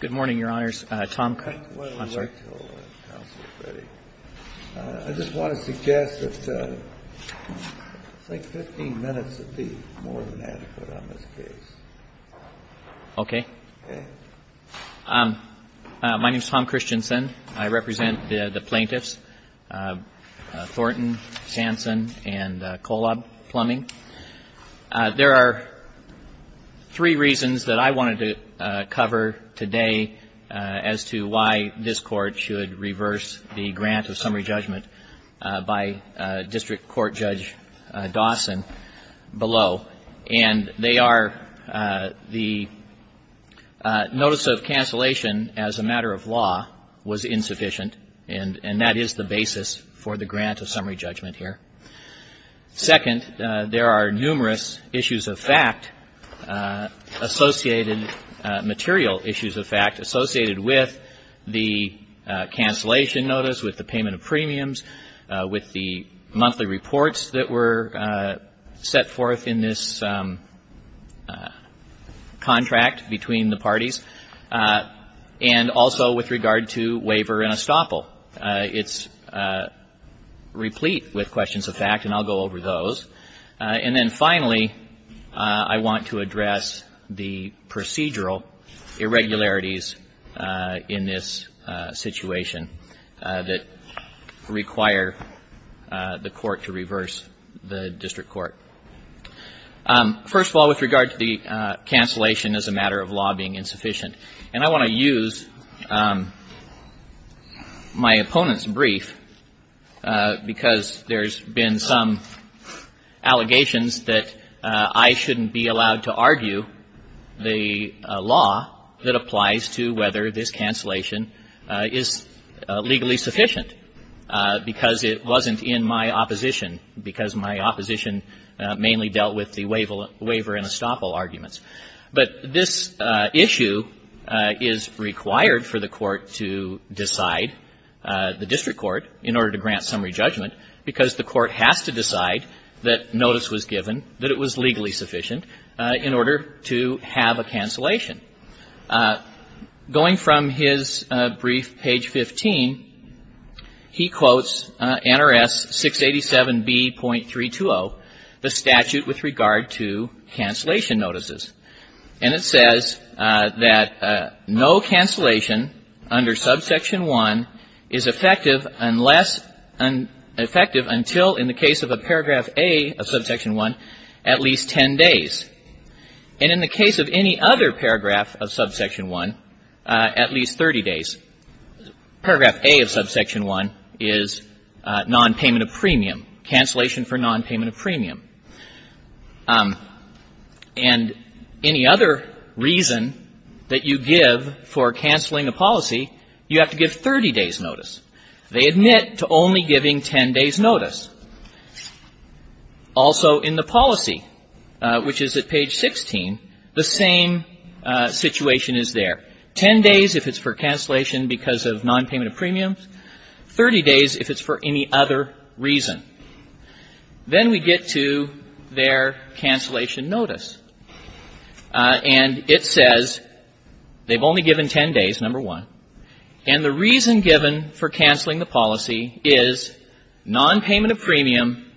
Good morning, Your Honors. Tom Christensen. I'm sorry. I just want to suggest that it's like 15 minutes would be more than adequate on this case. Okay. My name is Tom Christensen. I represent the plaintiffs Thornton, Sanson, and Kolob Plumbing. There are three reasons that I wanted to cover today as to why this Court should reverse the grant of summary judgment by District Court Judge Dawson below. And they are the notice of cancellation as a matter of law was insufficient, and that is the basis for the grant of summary judgment here. Second, there are numerous issues of fact associated, material issues of fact, associated with the cancellation notice, with the payment of premiums, with the monthly reports that were set forth in this contract between the parties, and also with regard to waiver and estoppel. It's replete with questions of fact, and I'll go over those. And then finally, I want to address the procedural irregularities in this situation that require the Court to reverse the District Court. First of all, with regard to the cancellation as a matter of law being insufficient, and I want to use my opponent's brief, because there's been some allegations that I shouldn't be allowed to argue the law that applies to whether this cancellation is legally sufficient, because it wasn't in my opposition, because my opposition mainly dealt with the waiver and estoppel arguments. But this issue is required for the Court to decide, the District Court, in order to grant summary judgment, because the Court has to decide that notice was given, that it was legally sufficient, in order to have a cancellation. Going from his brief, page 15, he quotes NRS 687B.320, the statute with regard to cancellation notices. And it says that no cancellation under subsection 1 is effective unless, effective until, in the case of a paragraph A of subsection 1, at least 10 days. And in the case of any other paragraph of subsection 1, at least 30 days. Paragraph A of subsection 1 is nonpayment of premium, cancellation for nonpayment of premium. And any other reason that you give for canceling a policy, you have to give 30 days' notice. They admit to only giving 10 days' notice. Also, in the policy, which is at page 16, the same situation is there. 10 days if it's for cancellation because of nonpayment of premiums. 30 days if it's for any other reason. Then we get to their cancellation notice. And it says they've only given 10 days, number 1. And the reason given for cancelling the policy is nonpayment of premium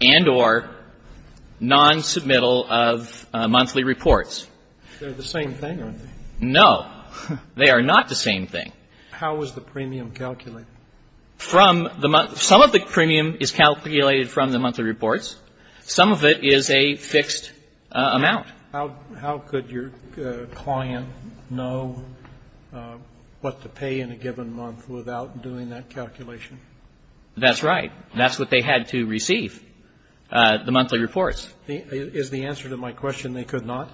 and or nonsubmittal of monthly reports. They're the same thing, aren't they? No. They are not the same thing. How is the premium calculated? From the month — some of the premium is calculated from the monthly reports. Some of it is a fixed amount. How could your client know what to pay in a given month without doing that calculation? That's right. That's what they had to receive, the monthly reports. Is the answer to my question they could not?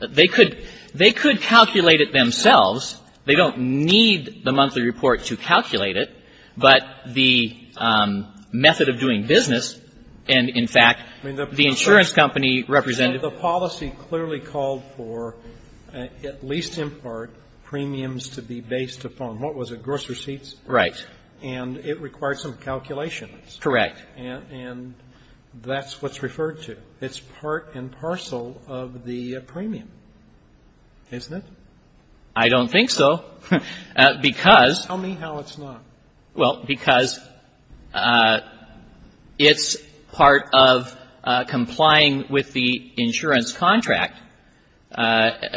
They could — they could calculate it themselves. They don't need the monthly report to calculate it. But the method of doing business and, in fact, the insurance company represented the policy clearly called for, at least in part, premiums to be based upon, what was it, gross receipts? Right. And it required some calculations. Correct. And that's what's referred to. It's part and parcel of the premium, isn't it? I don't think so, because — Tell me how it's not. Well, because it's part of complying with the insurance contract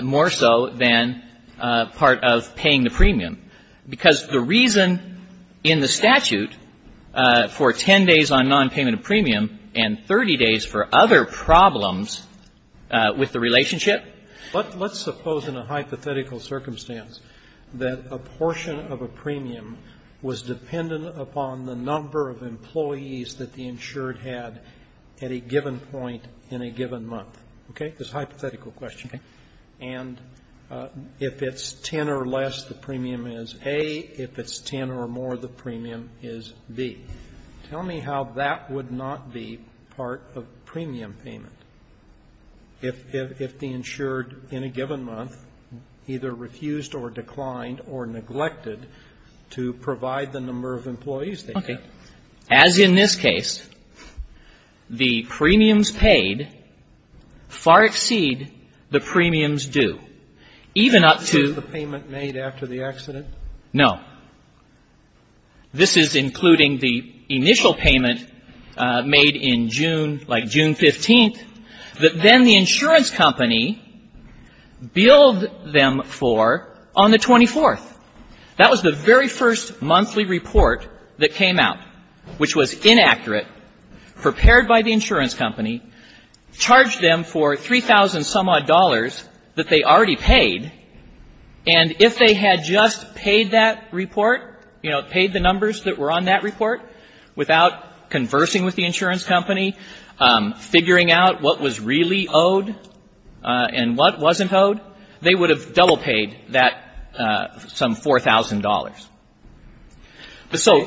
more so than part of paying the premium. Because the reason in the statute for 10 days on nonpayment of premium and 30 days for other problems with the relationship Let's suppose in a hypothetical circumstance that a portion of a premium was dependent upon the number of employees that the insured had at a given point in a given month. Okay? This is a hypothetical question. Okay. And if it's 10 or less, the premium is A. If it's 10 or more, the premium is B. Tell me how that would not be part of premium payment if the insured in a given month either refused or declined or neglected to provide the number of employees they had. Well, as in this case, the premiums paid far exceed the premiums due, even up to — Is this the payment made after the accident? No. This is including the initial payment made in June, like June 15th, that then the insurance company billed them for on the 24th. That was the very first monthly report that came out, which was inaccurate, prepared by the insurance company, charged them for $3,000-some-odd that they already paid. And if they had just paid that report, you know, paid the numbers that were on that report without conversing with the insurance company, figuring out what was really They would have double-paid that some $4,000. So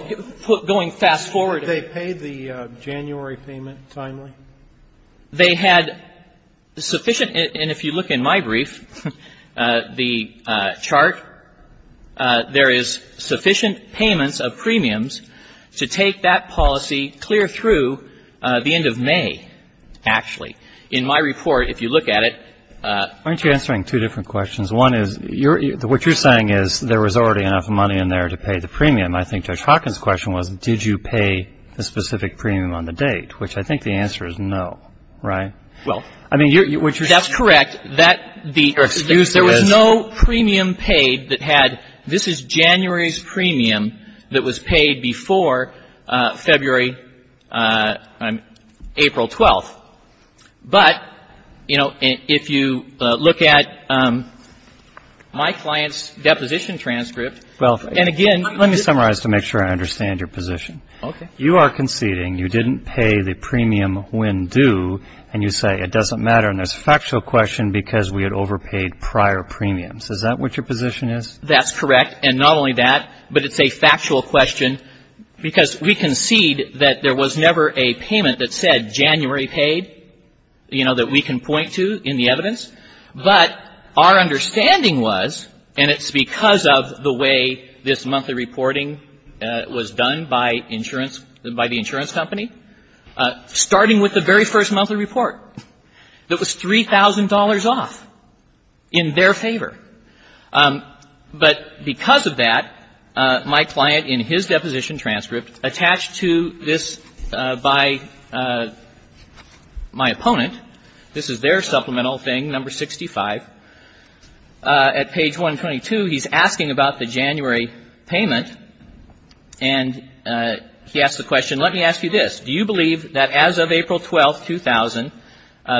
going fast-forward. Did they pay the January payment timely? They had sufficient — and if you look in my brief, the chart, there is sufficient payments of premiums to take that policy clear through the end of May, actually. In my report, if you look at it — Aren't you answering two different questions? One is, what you're saying is there was already enough money in there to pay the premium. I think Judge Hawkins' question was, did you pay the specific premium on the date, which I think the answer is no, right? Well, that's correct. That — There was no premium paid that had — this is January's premium that was paid before February, April 12th. But, you know, if you look at my client's deposition transcript — Well, and again — Let me summarize to make sure I understand your position. Okay. You are conceding you didn't pay the premium when due, and you say it doesn't matter. And there's a factual question because we had overpaid prior premiums. Is that what your position is? That's correct. And not only that, but it's a factual question because we concede that there was never a payment that said January paid, you know, that we can point to in the evidence. But our understanding was, and it's because of the way this monthly reporting was done by insurance — by the insurance company, starting with the very first monthly report that was $3,000 off in their favor. But because of that, my client, in his deposition transcript, attached to this by my opponent — this is their supplemental thing, number 65. At page 122, he's asking about the January payment, and he asks the question, let me ask you this, do you believe that as of April 12th, 2000,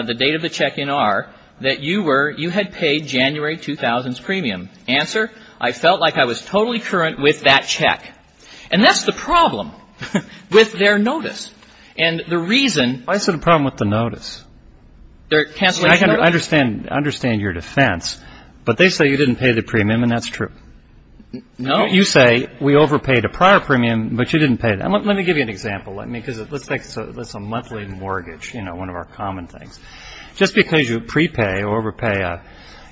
the date of the check-in are that you were — you had paid January 2000's premium? Answer, I felt like I was totally current with that check. And that's the problem with their notice. And the reason — I said the problem with the notice. Their cancellation notice? I understand your defense, but they say you didn't pay the premium, and that's true. No. You say we overpaid a prior premium, but you didn't pay it. Let me give you an example. Let me — because let's take — let's say monthly mortgage, you know, one of our common things. Just because you prepay or overpay,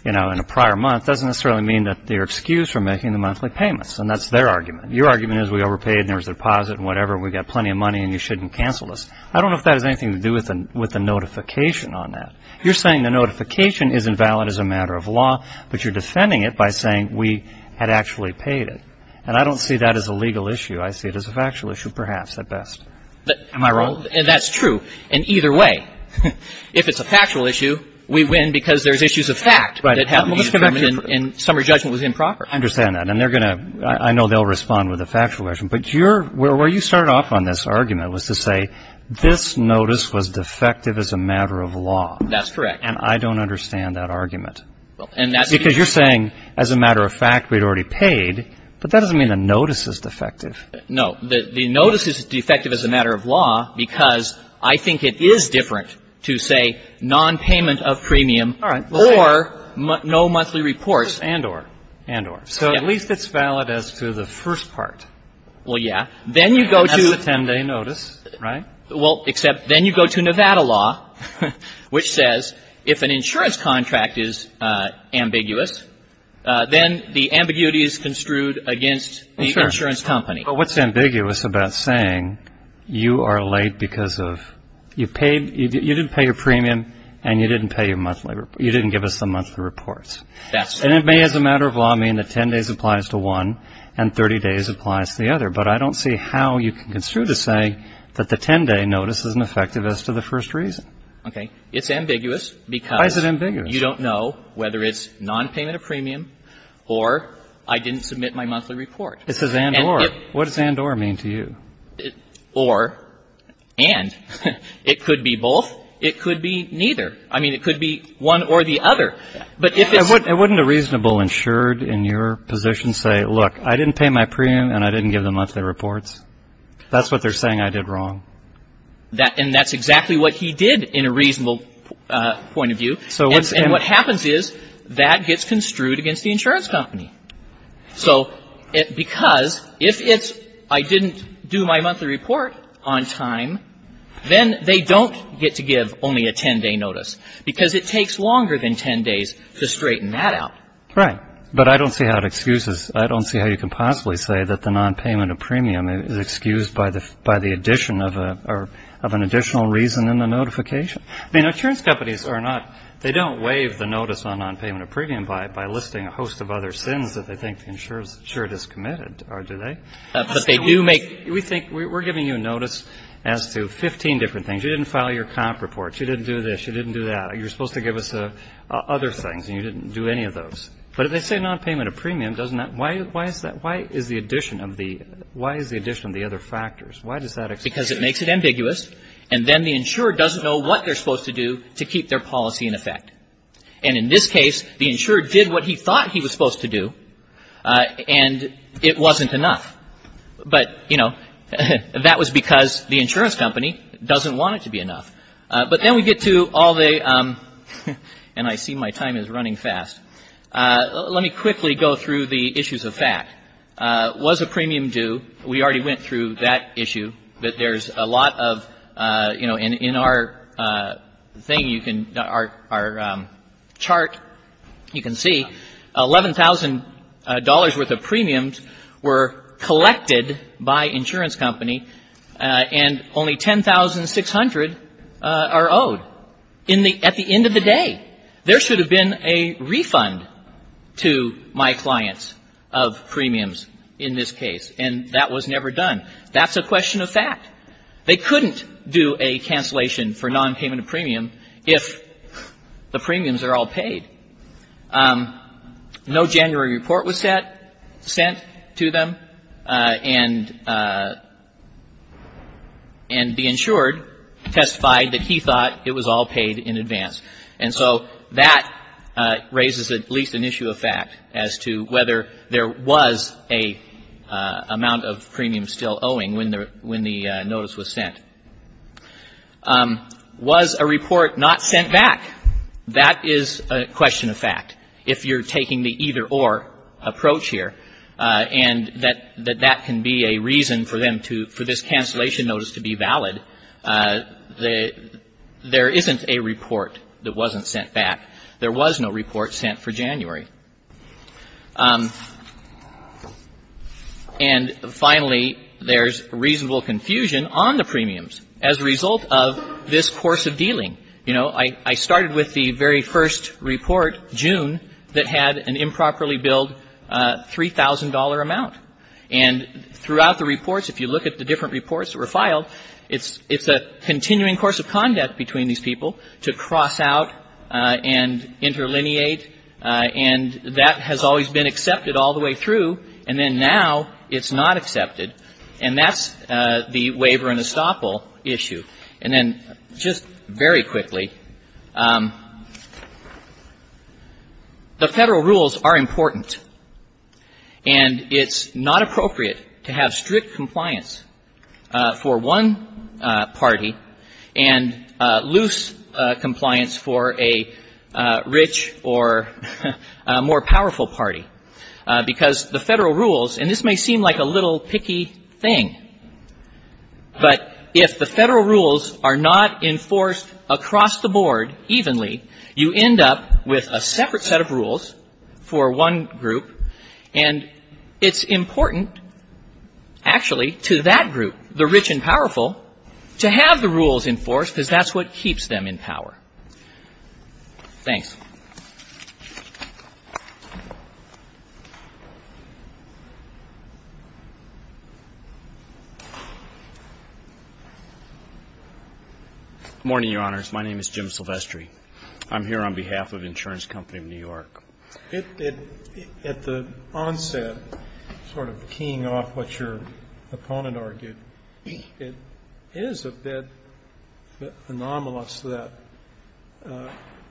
you know, in a prior month doesn't necessarily mean that they're excused from making the monthly payments. And that's their argument. Your argument is we overpaid, and there was a deposit and whatever, and we got plenty of money, and you shouldn't cancel this. I don't know if that has anything to do with the notification on that. You're saying the notification isn't valid as a matter of law, but you're defending it by saying we had actually paid it. And I don't see that as a legal issue. I see it as a factual issue, perhaps, at best. Am I wrong? And that's true in either way. If it's a factual issue, we win because there's issues of fact that happened in the government and summary judgment was improper. I understand that. And they're going to — I know they'll respond with a factual question. But your — where you started off on this argument was to say this notice was defective as a matter of law. That's correct. And I don't understand that argument. Well, and that's — Because you're saying, as a matter of fact, we'd already paid, but that doesn't mean a notice is defective. No. The notice is defective as a matter of law because I think it is different to say nonpayment of premium or no monthly reports. And or. And or. So at least it's valid as to the first part. Well, yeah. Then you go to — That's a 10-day notice, right? Well, except then you go to Nevada law, which says if an insurance contract is ambiguous, then the ambiguity is construed against the insurance company. But what's ambiguous about saying you are late because of — you paid — you didn't pay your premium and you didn't pay your monthly — you didn't give us the monthly reports. That's — And it may, as a matter of law, mean that 10 days applies to one and 30 days applies to the other. But I don't see how you can construe to say that the 10-day notice isn't effective as to the first reason. Okay. It's ambiguous because — Why is it ambiguous? You don't know whether it's nonpayment of premium or I didn't submit my monthly report. It says and or. What does and or mean to you? Or. And. It could be both. It could be neither. I mean, it could be one or the other. But if it's — And wouldn't a reasonable insured in your position say, look, I didn't pay my premium and I didn't give the monthly reports? That's what they're saying I did wrong. And that's exactly what he did in a reasonable point of view. So what's — And what happens is that gets construed against the insurance company. So because if it's I didn't do my monthly report on time, then they don't get to give only a 10-day notice because it takes longer than 10 days to straighten that out. Right. But I don't see how it excuses. I don't see how you can possibly say that the nonpayment of premium is excused by the by the addition of an additional reason in the notification. I mean, insurance companies are not — they don't waive the notice on nonpayment of premium by listing a host of other sins that they think the insured has committed, do they? But they do make — We think — we're giving you a notice as to 15 different things. You didn't file your comp reports. You didn't do this. You didn't do that. You're supposed to give us other things. And you didn't do any of those. But if they say nonpayment of premium, doesn't that — why is that — why is the addition of the — why is the addition of the other factors? Why does that — Because it makes it ambiguous, and then the insurer doesn't know what they're supposed to do to keep their policy in effect. And in this case, the insurer did what he thought he was supposed to do, and it wasn't enough. But, you know, that was because the insurance company doesn't want it to be enough. But then we get to all the — and I see my time is running fast. Let me quickly go through the issues of fact. Was a premium due? We already went through that issue, that there's a lot of — you know, in our thing, you can — our chart, you can see $11,000 worth of premiums were collected by insurance company, and only $10,600 are owed in the — at the end of the day. There should have been a refund to my clients of premiums in this case. And that was never done. That's a question of fact. They couldn't do a cancellation for non-payment of premium if the premiums are all paid. No January report was sent to them, and the insured testified that he thought it was all paid in advance. And so that raises at least an issue of fact as to whether there was an amount of premium still owing when the notice was sent. Was a report not sent back? That is a question of fact. If you're taking the either-or approach here, and that that can be a reason for them to — for this cancellation notice to be valid, there isn't a report that wasn't sent back. There was no report sent for January. And finally, there's reasonable confusion on the premiums as a result of this course of dealing. You know, I started with the very first report, June, that had an improperly billed $3,000 amount. And throughout the reports, if you look at the different reports that were filed, it's a continuing course of conduct between these people to cross out and interlineate. And that has always been accepted all the way through. And then now it's not accepted. And that's the waiver and estoppel issue. And then just very quickly, the Federal rules are important. And it's not appropriate to have strict compliance for one party and loose compliance for a rich or more powerful party, because the Federal rules — and this may seem like a little picky thing, but if the Federal rules are not enforced across the board evenly, you end up with a separate set of rules for one group, and it's important, actually, to that group, the rich and powerful, to have the rules enforced, because that's what keeps them in power. Thanks. Good morning, Your Honors. My name is Jim Silvestri. I'm here on behalf of Insurance Company of New York. It — at the onset, sort of keying off what your opponent argued, it is a bit anomalous that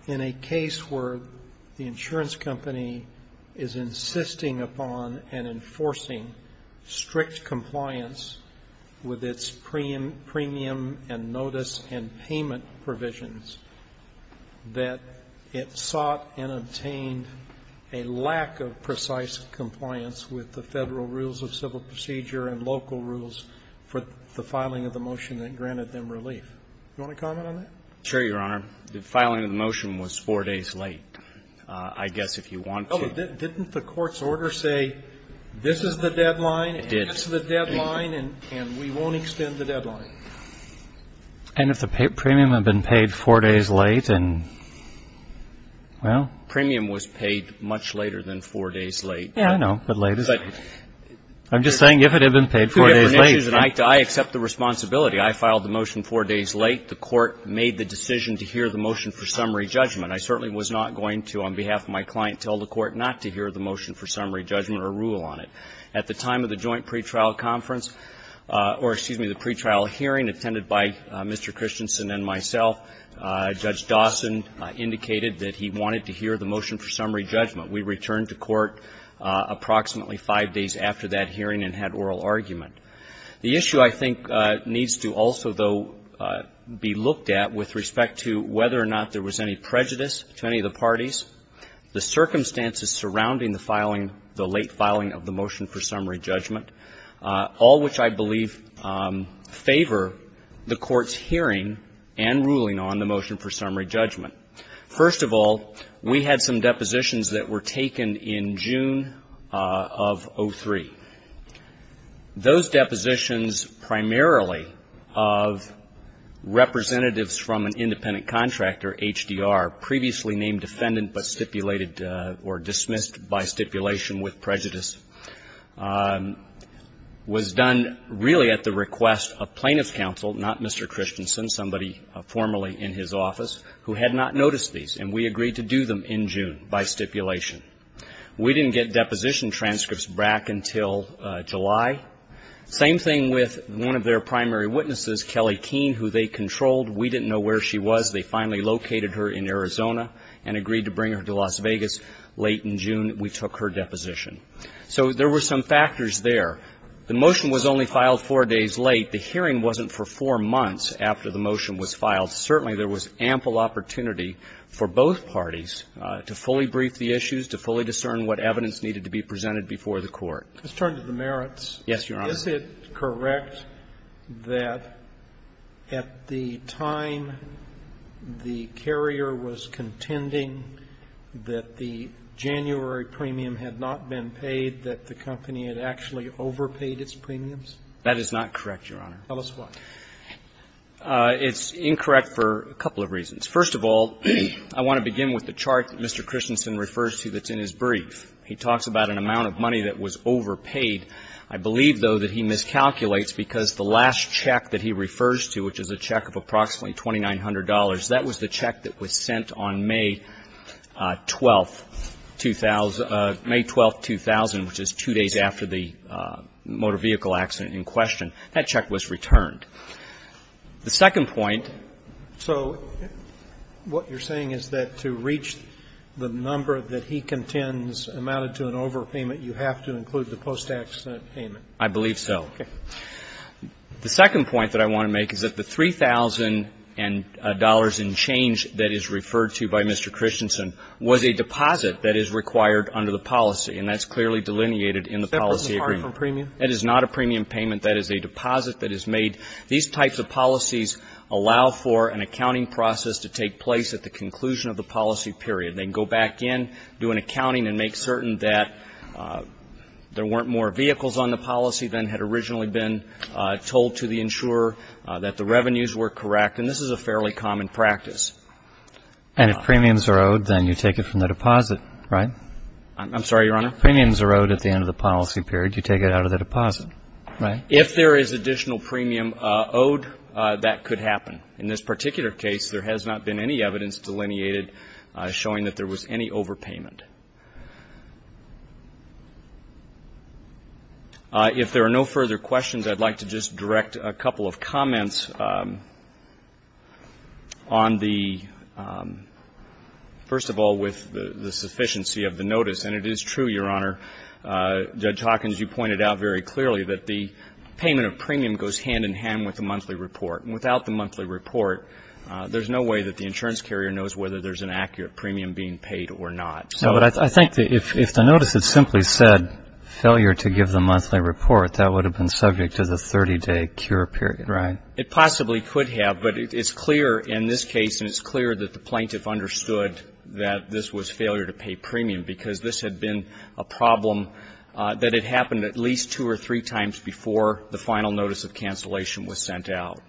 in a case where the insurance company is insisting upon and enforcing strict compliance with its premium and notice and payment provisions, that it sought and obtained a lack of precise compliance with the Federal rules of civil procedure and local rules for the filing of the motion that granted them relief. Do you want to comment on that? Sure, Your Honor. The filing of the motion was four days late. I guess if you want to — Didn't the court's order say this is the deadline — It did. It's the deadline, and we won't extend the deadline. And if the premium had been paid four days late and — well — The premium was paid much later than four days late. Yeah, I know. But late is — I'm just saying if it had been paid four days late — Two different issues, and I accept the responsibility. I filed the motion four days late. The court made the decision to hear the motion for summary judgment. I certainly was not going to, on behalf of my client, tell the court not to hear the motion for summary judgment or rule on it. At the time of the joint pretrial conference — or, excuse me, the pretrial hearing attended by Mr. Christensen and myself, Judge Dawson indicated that he wanted to hear the motion for summary judgment. We returned to court approximately five days after that hearing and had oral argument. The issue, I think, needs to also, though, be looked at with respect to whether the circumstances surrounding the filing — the late filing of the motion for summary judgment, all which I believe favor the court's hearing and ruling on the motion for summary judgment. First of all, we had some depositions that were taken in June of 2003. Those depositions primarily of representatives from an independent contractor, HDR, previously named defendant but stipulated — or dismissed by stipulation with prejudice, was done really at the request of plaintiff's counsel, not Mr. Christensen, somebody formerly in his office, who had not noticed these. And we agreed to do them in June by stipulation. We didn't get deposition transcripts back until July. Same thing with one of their primary witnesses, Kelly Keene, who they controlled. We didn't know where she was. They finally located her in Arizona and agreed to bring her to Las Vegas late in June. We took her deposition. So there were some factors there. The motion was only filed four days late. The hearing wasn't for four months after the motion was filed. Certainly, there was ample opportunity for both parties to fully brief the issues, to fully discern what evidence needed to be presented before the Court. Roberts. Let's turn to the merits. Yes, Your Honor. Is it correct that at the time the carrier was contending that the January premium had not been paid, that the company had actually overpaid its premiums? That is not correct, Your Honor. Tell us why. It's incorrect for a couple of reasons. First of all, I want to begin with the chart that Mr. Christensen refers to that's in his brief. He talks about an amount of money that was overpaid. I believe, though, that he miscalculates because the last check that he refers to, which is a check of approximately $2,900, that was the check that was sent on May 12, 2000, May 12, 2000, which is two days after the motor vehicle accident in question. That check was returned. The second point. So what you're saying is that to reach the number that he contends amounted to an overpayment, you have to include the post-accident payment? I believe so. Okay. The second point that I want to make is that the $3,000 in change that is referred to by Mr. Christensen was a deposit that is required under the policy, and that's clearly delineated in the policy agreement. Is that part of a premium? That is not a premium payment. That is a deposit that is made. These types of policies allow for an accounting process to take place at the conclusion of the policy period. They can go back in, do an accounting, and make certain that there weren't more vehicles on the policy than had originally been told to the insurer, that the revenues were correct, and this is a fairly common practice. And if premiums are owed, then you take it from the deposit, right? I'm sorry, Your Honor? If premiums are owed at the end of the policy period, you take it out of the deposit, right? If there is additional premium owed, that could happen. In this particular case, there has not been any evidence delineated showing that there was any overpayment. If there are no further questions, I'd like to just direct a couple of comments on the — first of all, with the sufficiency of the notice. And it is true, Your Honor, Judge Hawkins, you pointed out very clearly that the payment of premium goes hand-in-hand with the monthly report. And without the monthly report, there's no way that the insurance carrier knows whether there's an accurate premium being paid or not. So — But I think that if the notice had simply said, failure to give the monthly report, that would have been subject to the 30-day cure period. Right. It possibly could have. But it's clear in this case, and it's clear that the plaintiff understood that this was failure to pay premium, because this had been a problem that had happened at least two or three times before the final notice of cancellation was sent out.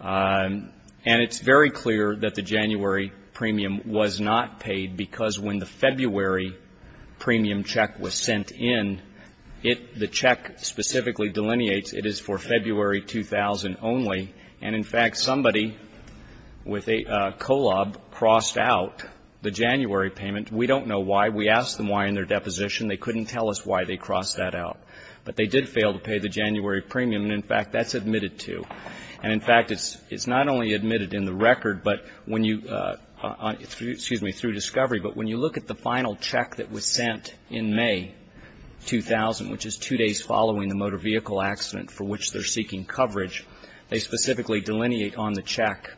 And it's very clear that the January premium was not paid, because when the February premium check was sent in, it — the check specifically delineates it is for February 2000 only. And, in fact, somebody with a colob crossed out the January payment. We don't know why. We asked them why in their deposition. They couldn't tell us why they crossed that out. But they did fail to pay the January premium. And, in fact, that's admitted to. And, in fact, it's not only admitted in the record, but when you — excuse me, through discovery, but when you look at the final check that was sent in May 2000, which is two days following the motor vehicle accident for which they're seeking coverage, they specifically delineate on the check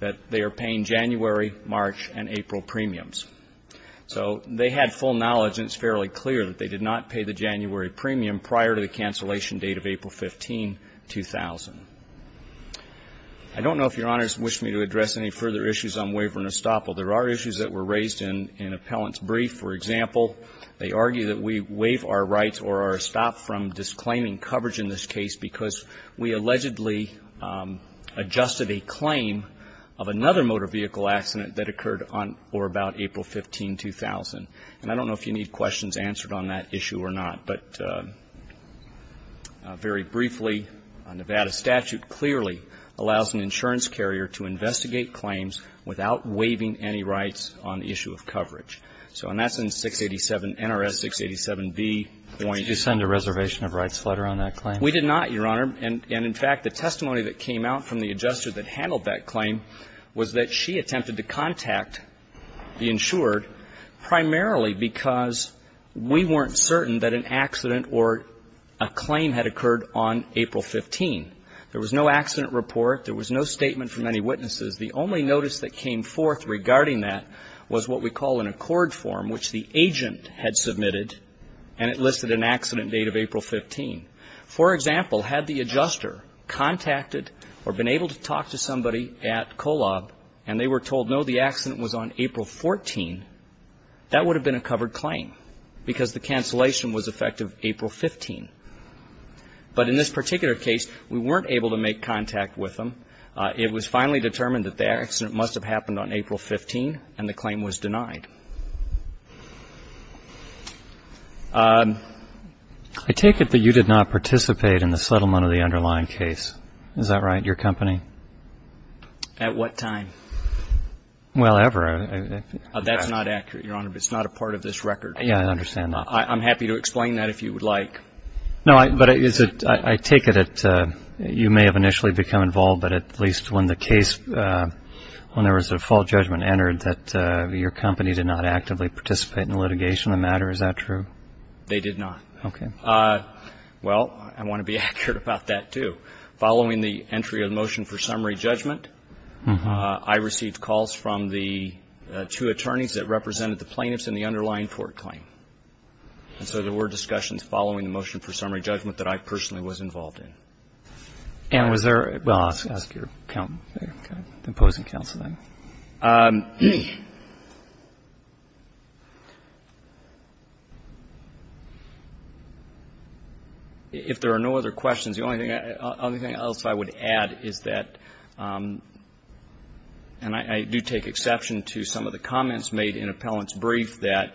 that they are paying January, March, and April premiums. So they had full knowledge, and it's fairly clear that they did not pay the January premium prior to the cancellation date of April 15, 2000. I don't know if Your Honors wish me to address any further issues on waiver and estoppel. There are issues that were raised in an appellant's brief. For example, they argue that we waive our rights or are stopped from disclaiming coverage in this case because we allegedly adjusted a claim of another motor vehicle accident that occurred on or about April 15, 2000. And I don't know if you need questions answered on that issue or not, but very briefly, a Nevada statute clearly allows an insurance carrier to investigate claims without waiving any rights on the issue of coverage. So, and that's in 687 NRS 687B. Did you send a reservation of rights letter on that claim? We did not, Your Honor. And, in fact, the testimony that came out from the adjuster that handled that claim was that she attempted to contact the insured primarily because we weren't certain that an accident or a claim had occurred on April 15. There was no accident report. There was no statement from any witnesses. The only notice that came forth regarding that was what we call an accord form, which the agent had submitted, and it listed an accident date of April 15. For example, had the adjuster contacted or been able to talk to somebody at COLAB, and they were told, no, the accident was on April 14, that would have been a covered claim because the cancellation was effective April 15. But in this particular case, we weren't able to make contact with them. It was finally determined that the accident must have happened on April 15, and the claim was denied. I take it that you did not participate in the settlement of the underlying case. Is that right, your company? At what time? Well, ever. That's not accurate, Your Honor, but it's not a part of this record. Yeah, I understand that. I'm happy to explain that if you would like. No, but I take it that you may have initially become involved, but at least when the case, you did not actively participate in the litigation of the matter. Is that true? They did not. Okay. Well, I want to be accurate about that, too. Following the entry of the motion for summary judgment, I received calls from the two attorneys that represented the plaintiffs in the underlying court claim. And so there were discussions following the motion for summary judgment that I personally was involved in. And was there any other? Well, I'll ask your counsel, the opposing counsel, then. If there are no other questions, the only thing else I would add is that, and I do take exception to some of the comments made in Appellant's brief, that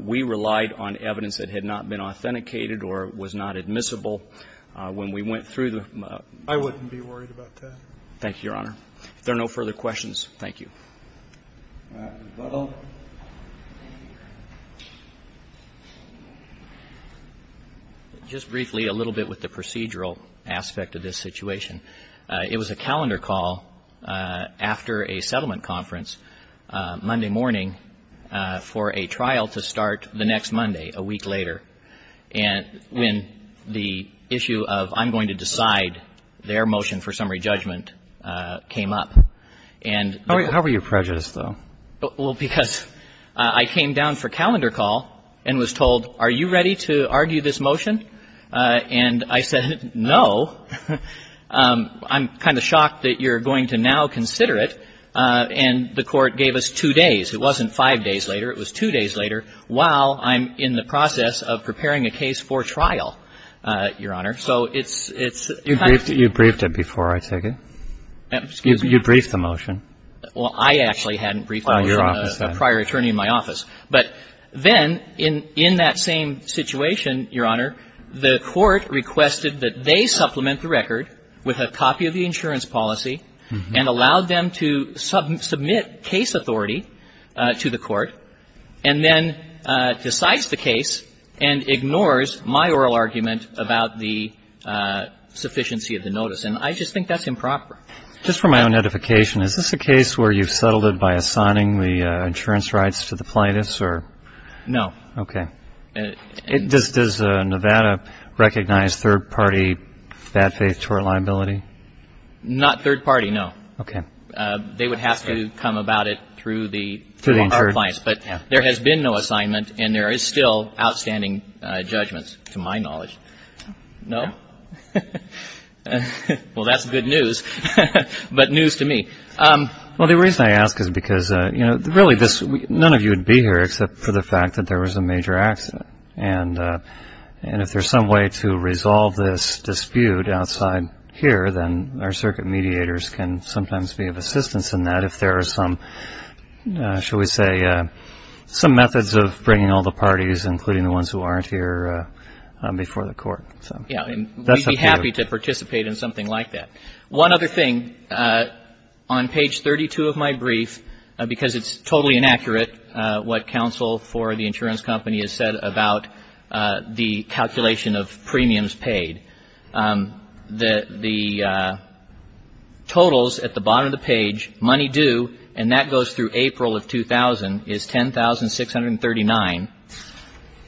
we relied on evidence that had not been authenticated or was not admissible. When we went through the ---- I wouldn't be worried about that. Thank you, Your Honor. If there are no further questions, thank you. Mr. Butler. Just briefly, a little bit with the procedural aspect of this situation. It was a calendar call after a settlement conference Monday morning for a trial to start the next Monday, a week later. And when the issue of I'm going to decide their motion for summary judgment came up, and the ---- How were you prejudiced, though? Well, because I came down for calendar call and was told, are you ready to argue this motion? And I said, no. I'm kind of shocked that you're going to now consider it. And the Court gave us two days. It wasn't five days later. It was two days later while I'm in the process of preparing a case for trial, Your Honor. So it's kind of ---- Excuse me? You briefed the motion? Well, I actually hadn't briefed it. I was a prior attorney in my office. But then in that same situation, Your Honor, the Court requested that they supplement the record with a copy of the insurance policy and allowed them to submit case authority to the Court, and then decides the case and ignores my oral argument about the sufficiency of the notice. And I just think that's improper. Just for my own edification, is this a case where you've settled it by assigning the insurance rights to the plaintiffs, or? No. OK. Does Nevada recognize third-party bad faith tort liability? Not third-party, no. OK. They would have to come about it through the insurance. But there has been no assignment. And there is still outstanding judgments, to my knowledge. No? Well, that's good news. But news to me. Well, the reason I ask is because, you know, really, none of you would be here except for the fact that there was a major accident. And if there's some way to resolve this dispute outside here, then our circuit mediators can sometimes be of assistance in that if there are some, shall we say, some methods of bringing all the parties, including the ones who aren't here, before the Court. Yeah. We'd be happy to participate in something like that. One other thing. On page 32 of my brief, because it's totally inaccurate what counsel for the insurance company has said about the calculation of premiums paid, the totals at the bottom of the page, money due, and that goes through April of 2000, is $10,639.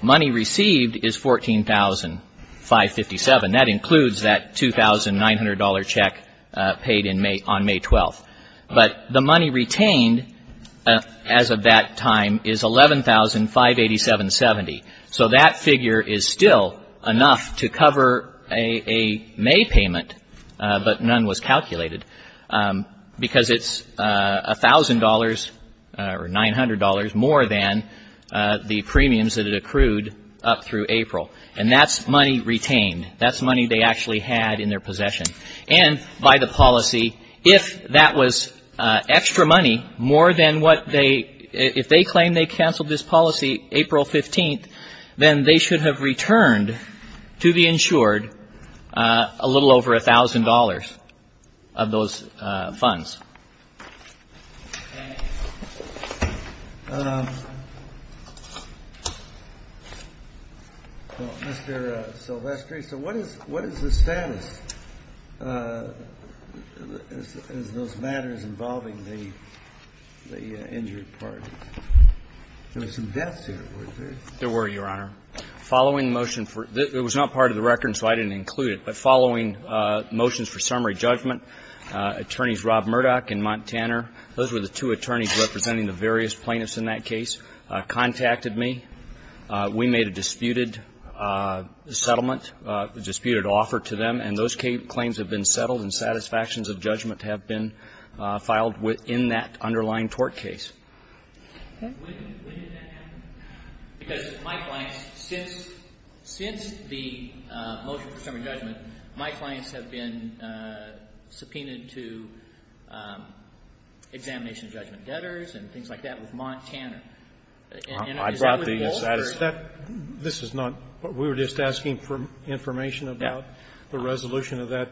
Money received is $14,557. That includes that $2,900 check paid on May 12th. But the money retained as of that time is $11,587.70. So that figure is still enough to cover a May payment, but none was calculated. Because it's $1,000 or $900 more than the premiums that it accrued up through April. And that's money retained. That's money they actually had in their possession. And by the policy, if that was extra money more than what they, if they claim they canceled this policy April 15th, then they should have returned to the insured a little over $1,000 of those funds. Mr. Silvestri, so what is the status as those matters involving the injured party? There were some deaths here, weren't there? There were, Your Honor. Following motion for the, it was not part of the record, so I didn't include it, but following motions for summary judgment, attorneys Rob Murdoch and Montaner, those were the two attorneys representing the various plaintiffs in that case, contacted me. We made a disputed settlement, disputed offer to them, and those claims have been settled and satisfactions of judgment have been filed within that underlying tort case. When did that happen? Because my clients, since the motion for summary judgment, my clients have been subpoenaed to examination of judgment debtors and things like that with Montaner, and is that what the goal is? This is not, we were just asking for information about the resolution of that.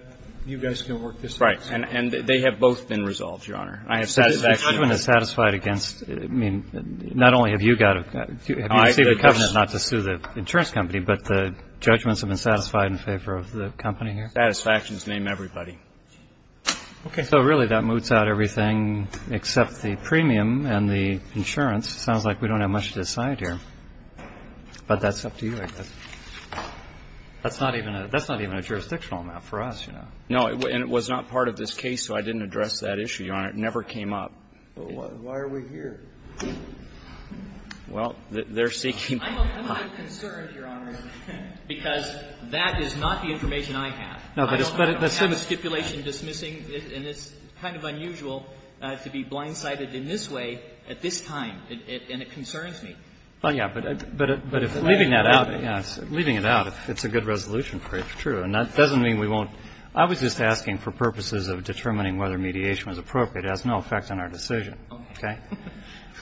You guys can work this out. Right, and they have both been resolved, Your Honor. I have satisfaction. The judgment is satisfied against, I mean, not only have you got, have you received a covenant not to sue the insurance company, but the judgments have been satisfied in favor of the company here? Satisfactions, name everybody. Okay. So really that moots out everything except the premium and the insurance. It sounds like we don't have much to decide here, but that's up to you, I guess. That's not even a jurisdictional amount for us, you know. And it never came up. But why are we here? Well, they're seeking. I'm a little concerned, Your Honor, because that is not the information I have. No, but it's the same as the stipulation dismissing, and it's kind of unusual to be blindsided in this way at this time, and it concerns me. Well, yes, but leaving that out, yes, leaving it out, if it's a good resolution for it, true. And that doesn't mean we won't – I was just asking for purposes of determining whether mediation was appropriate. It has no effect on our decision. Okay.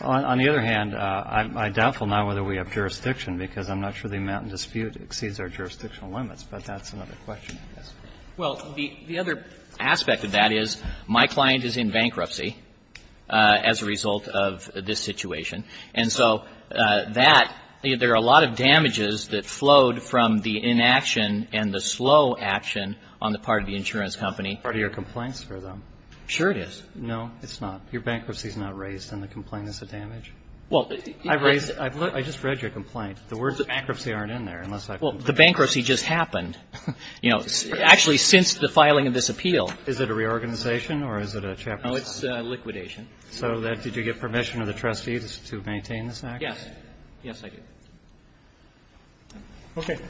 On the other hand, I'm doubtful now whether we have jurisdiction, because I'm not sure the amount in dispute exceeds our jurisdictional limits, but that's another question, I guess. Well, the other aspect of that is my client is in bankruptcy as a result of this situation, and so that – there are a lot of damages that flowed from the inaction and the slow action on the part of the insurance company. Part of your complaints for them. Sure it is. No, it's not. Your bankruptcy is not raised, and the complaint is a damage. Well, I've raised – I just read your complaint. The words bankruptcy aren't in there, unless I've – Well, the bankruptcy just happened, you know, actually since the filing of this appeal. Is it a reorganization, or is it a chaplaincy? No, it's a liquidation. So did you get permission of the trustees to maintain this act? Yes. Yes, I did. Okay. Okay.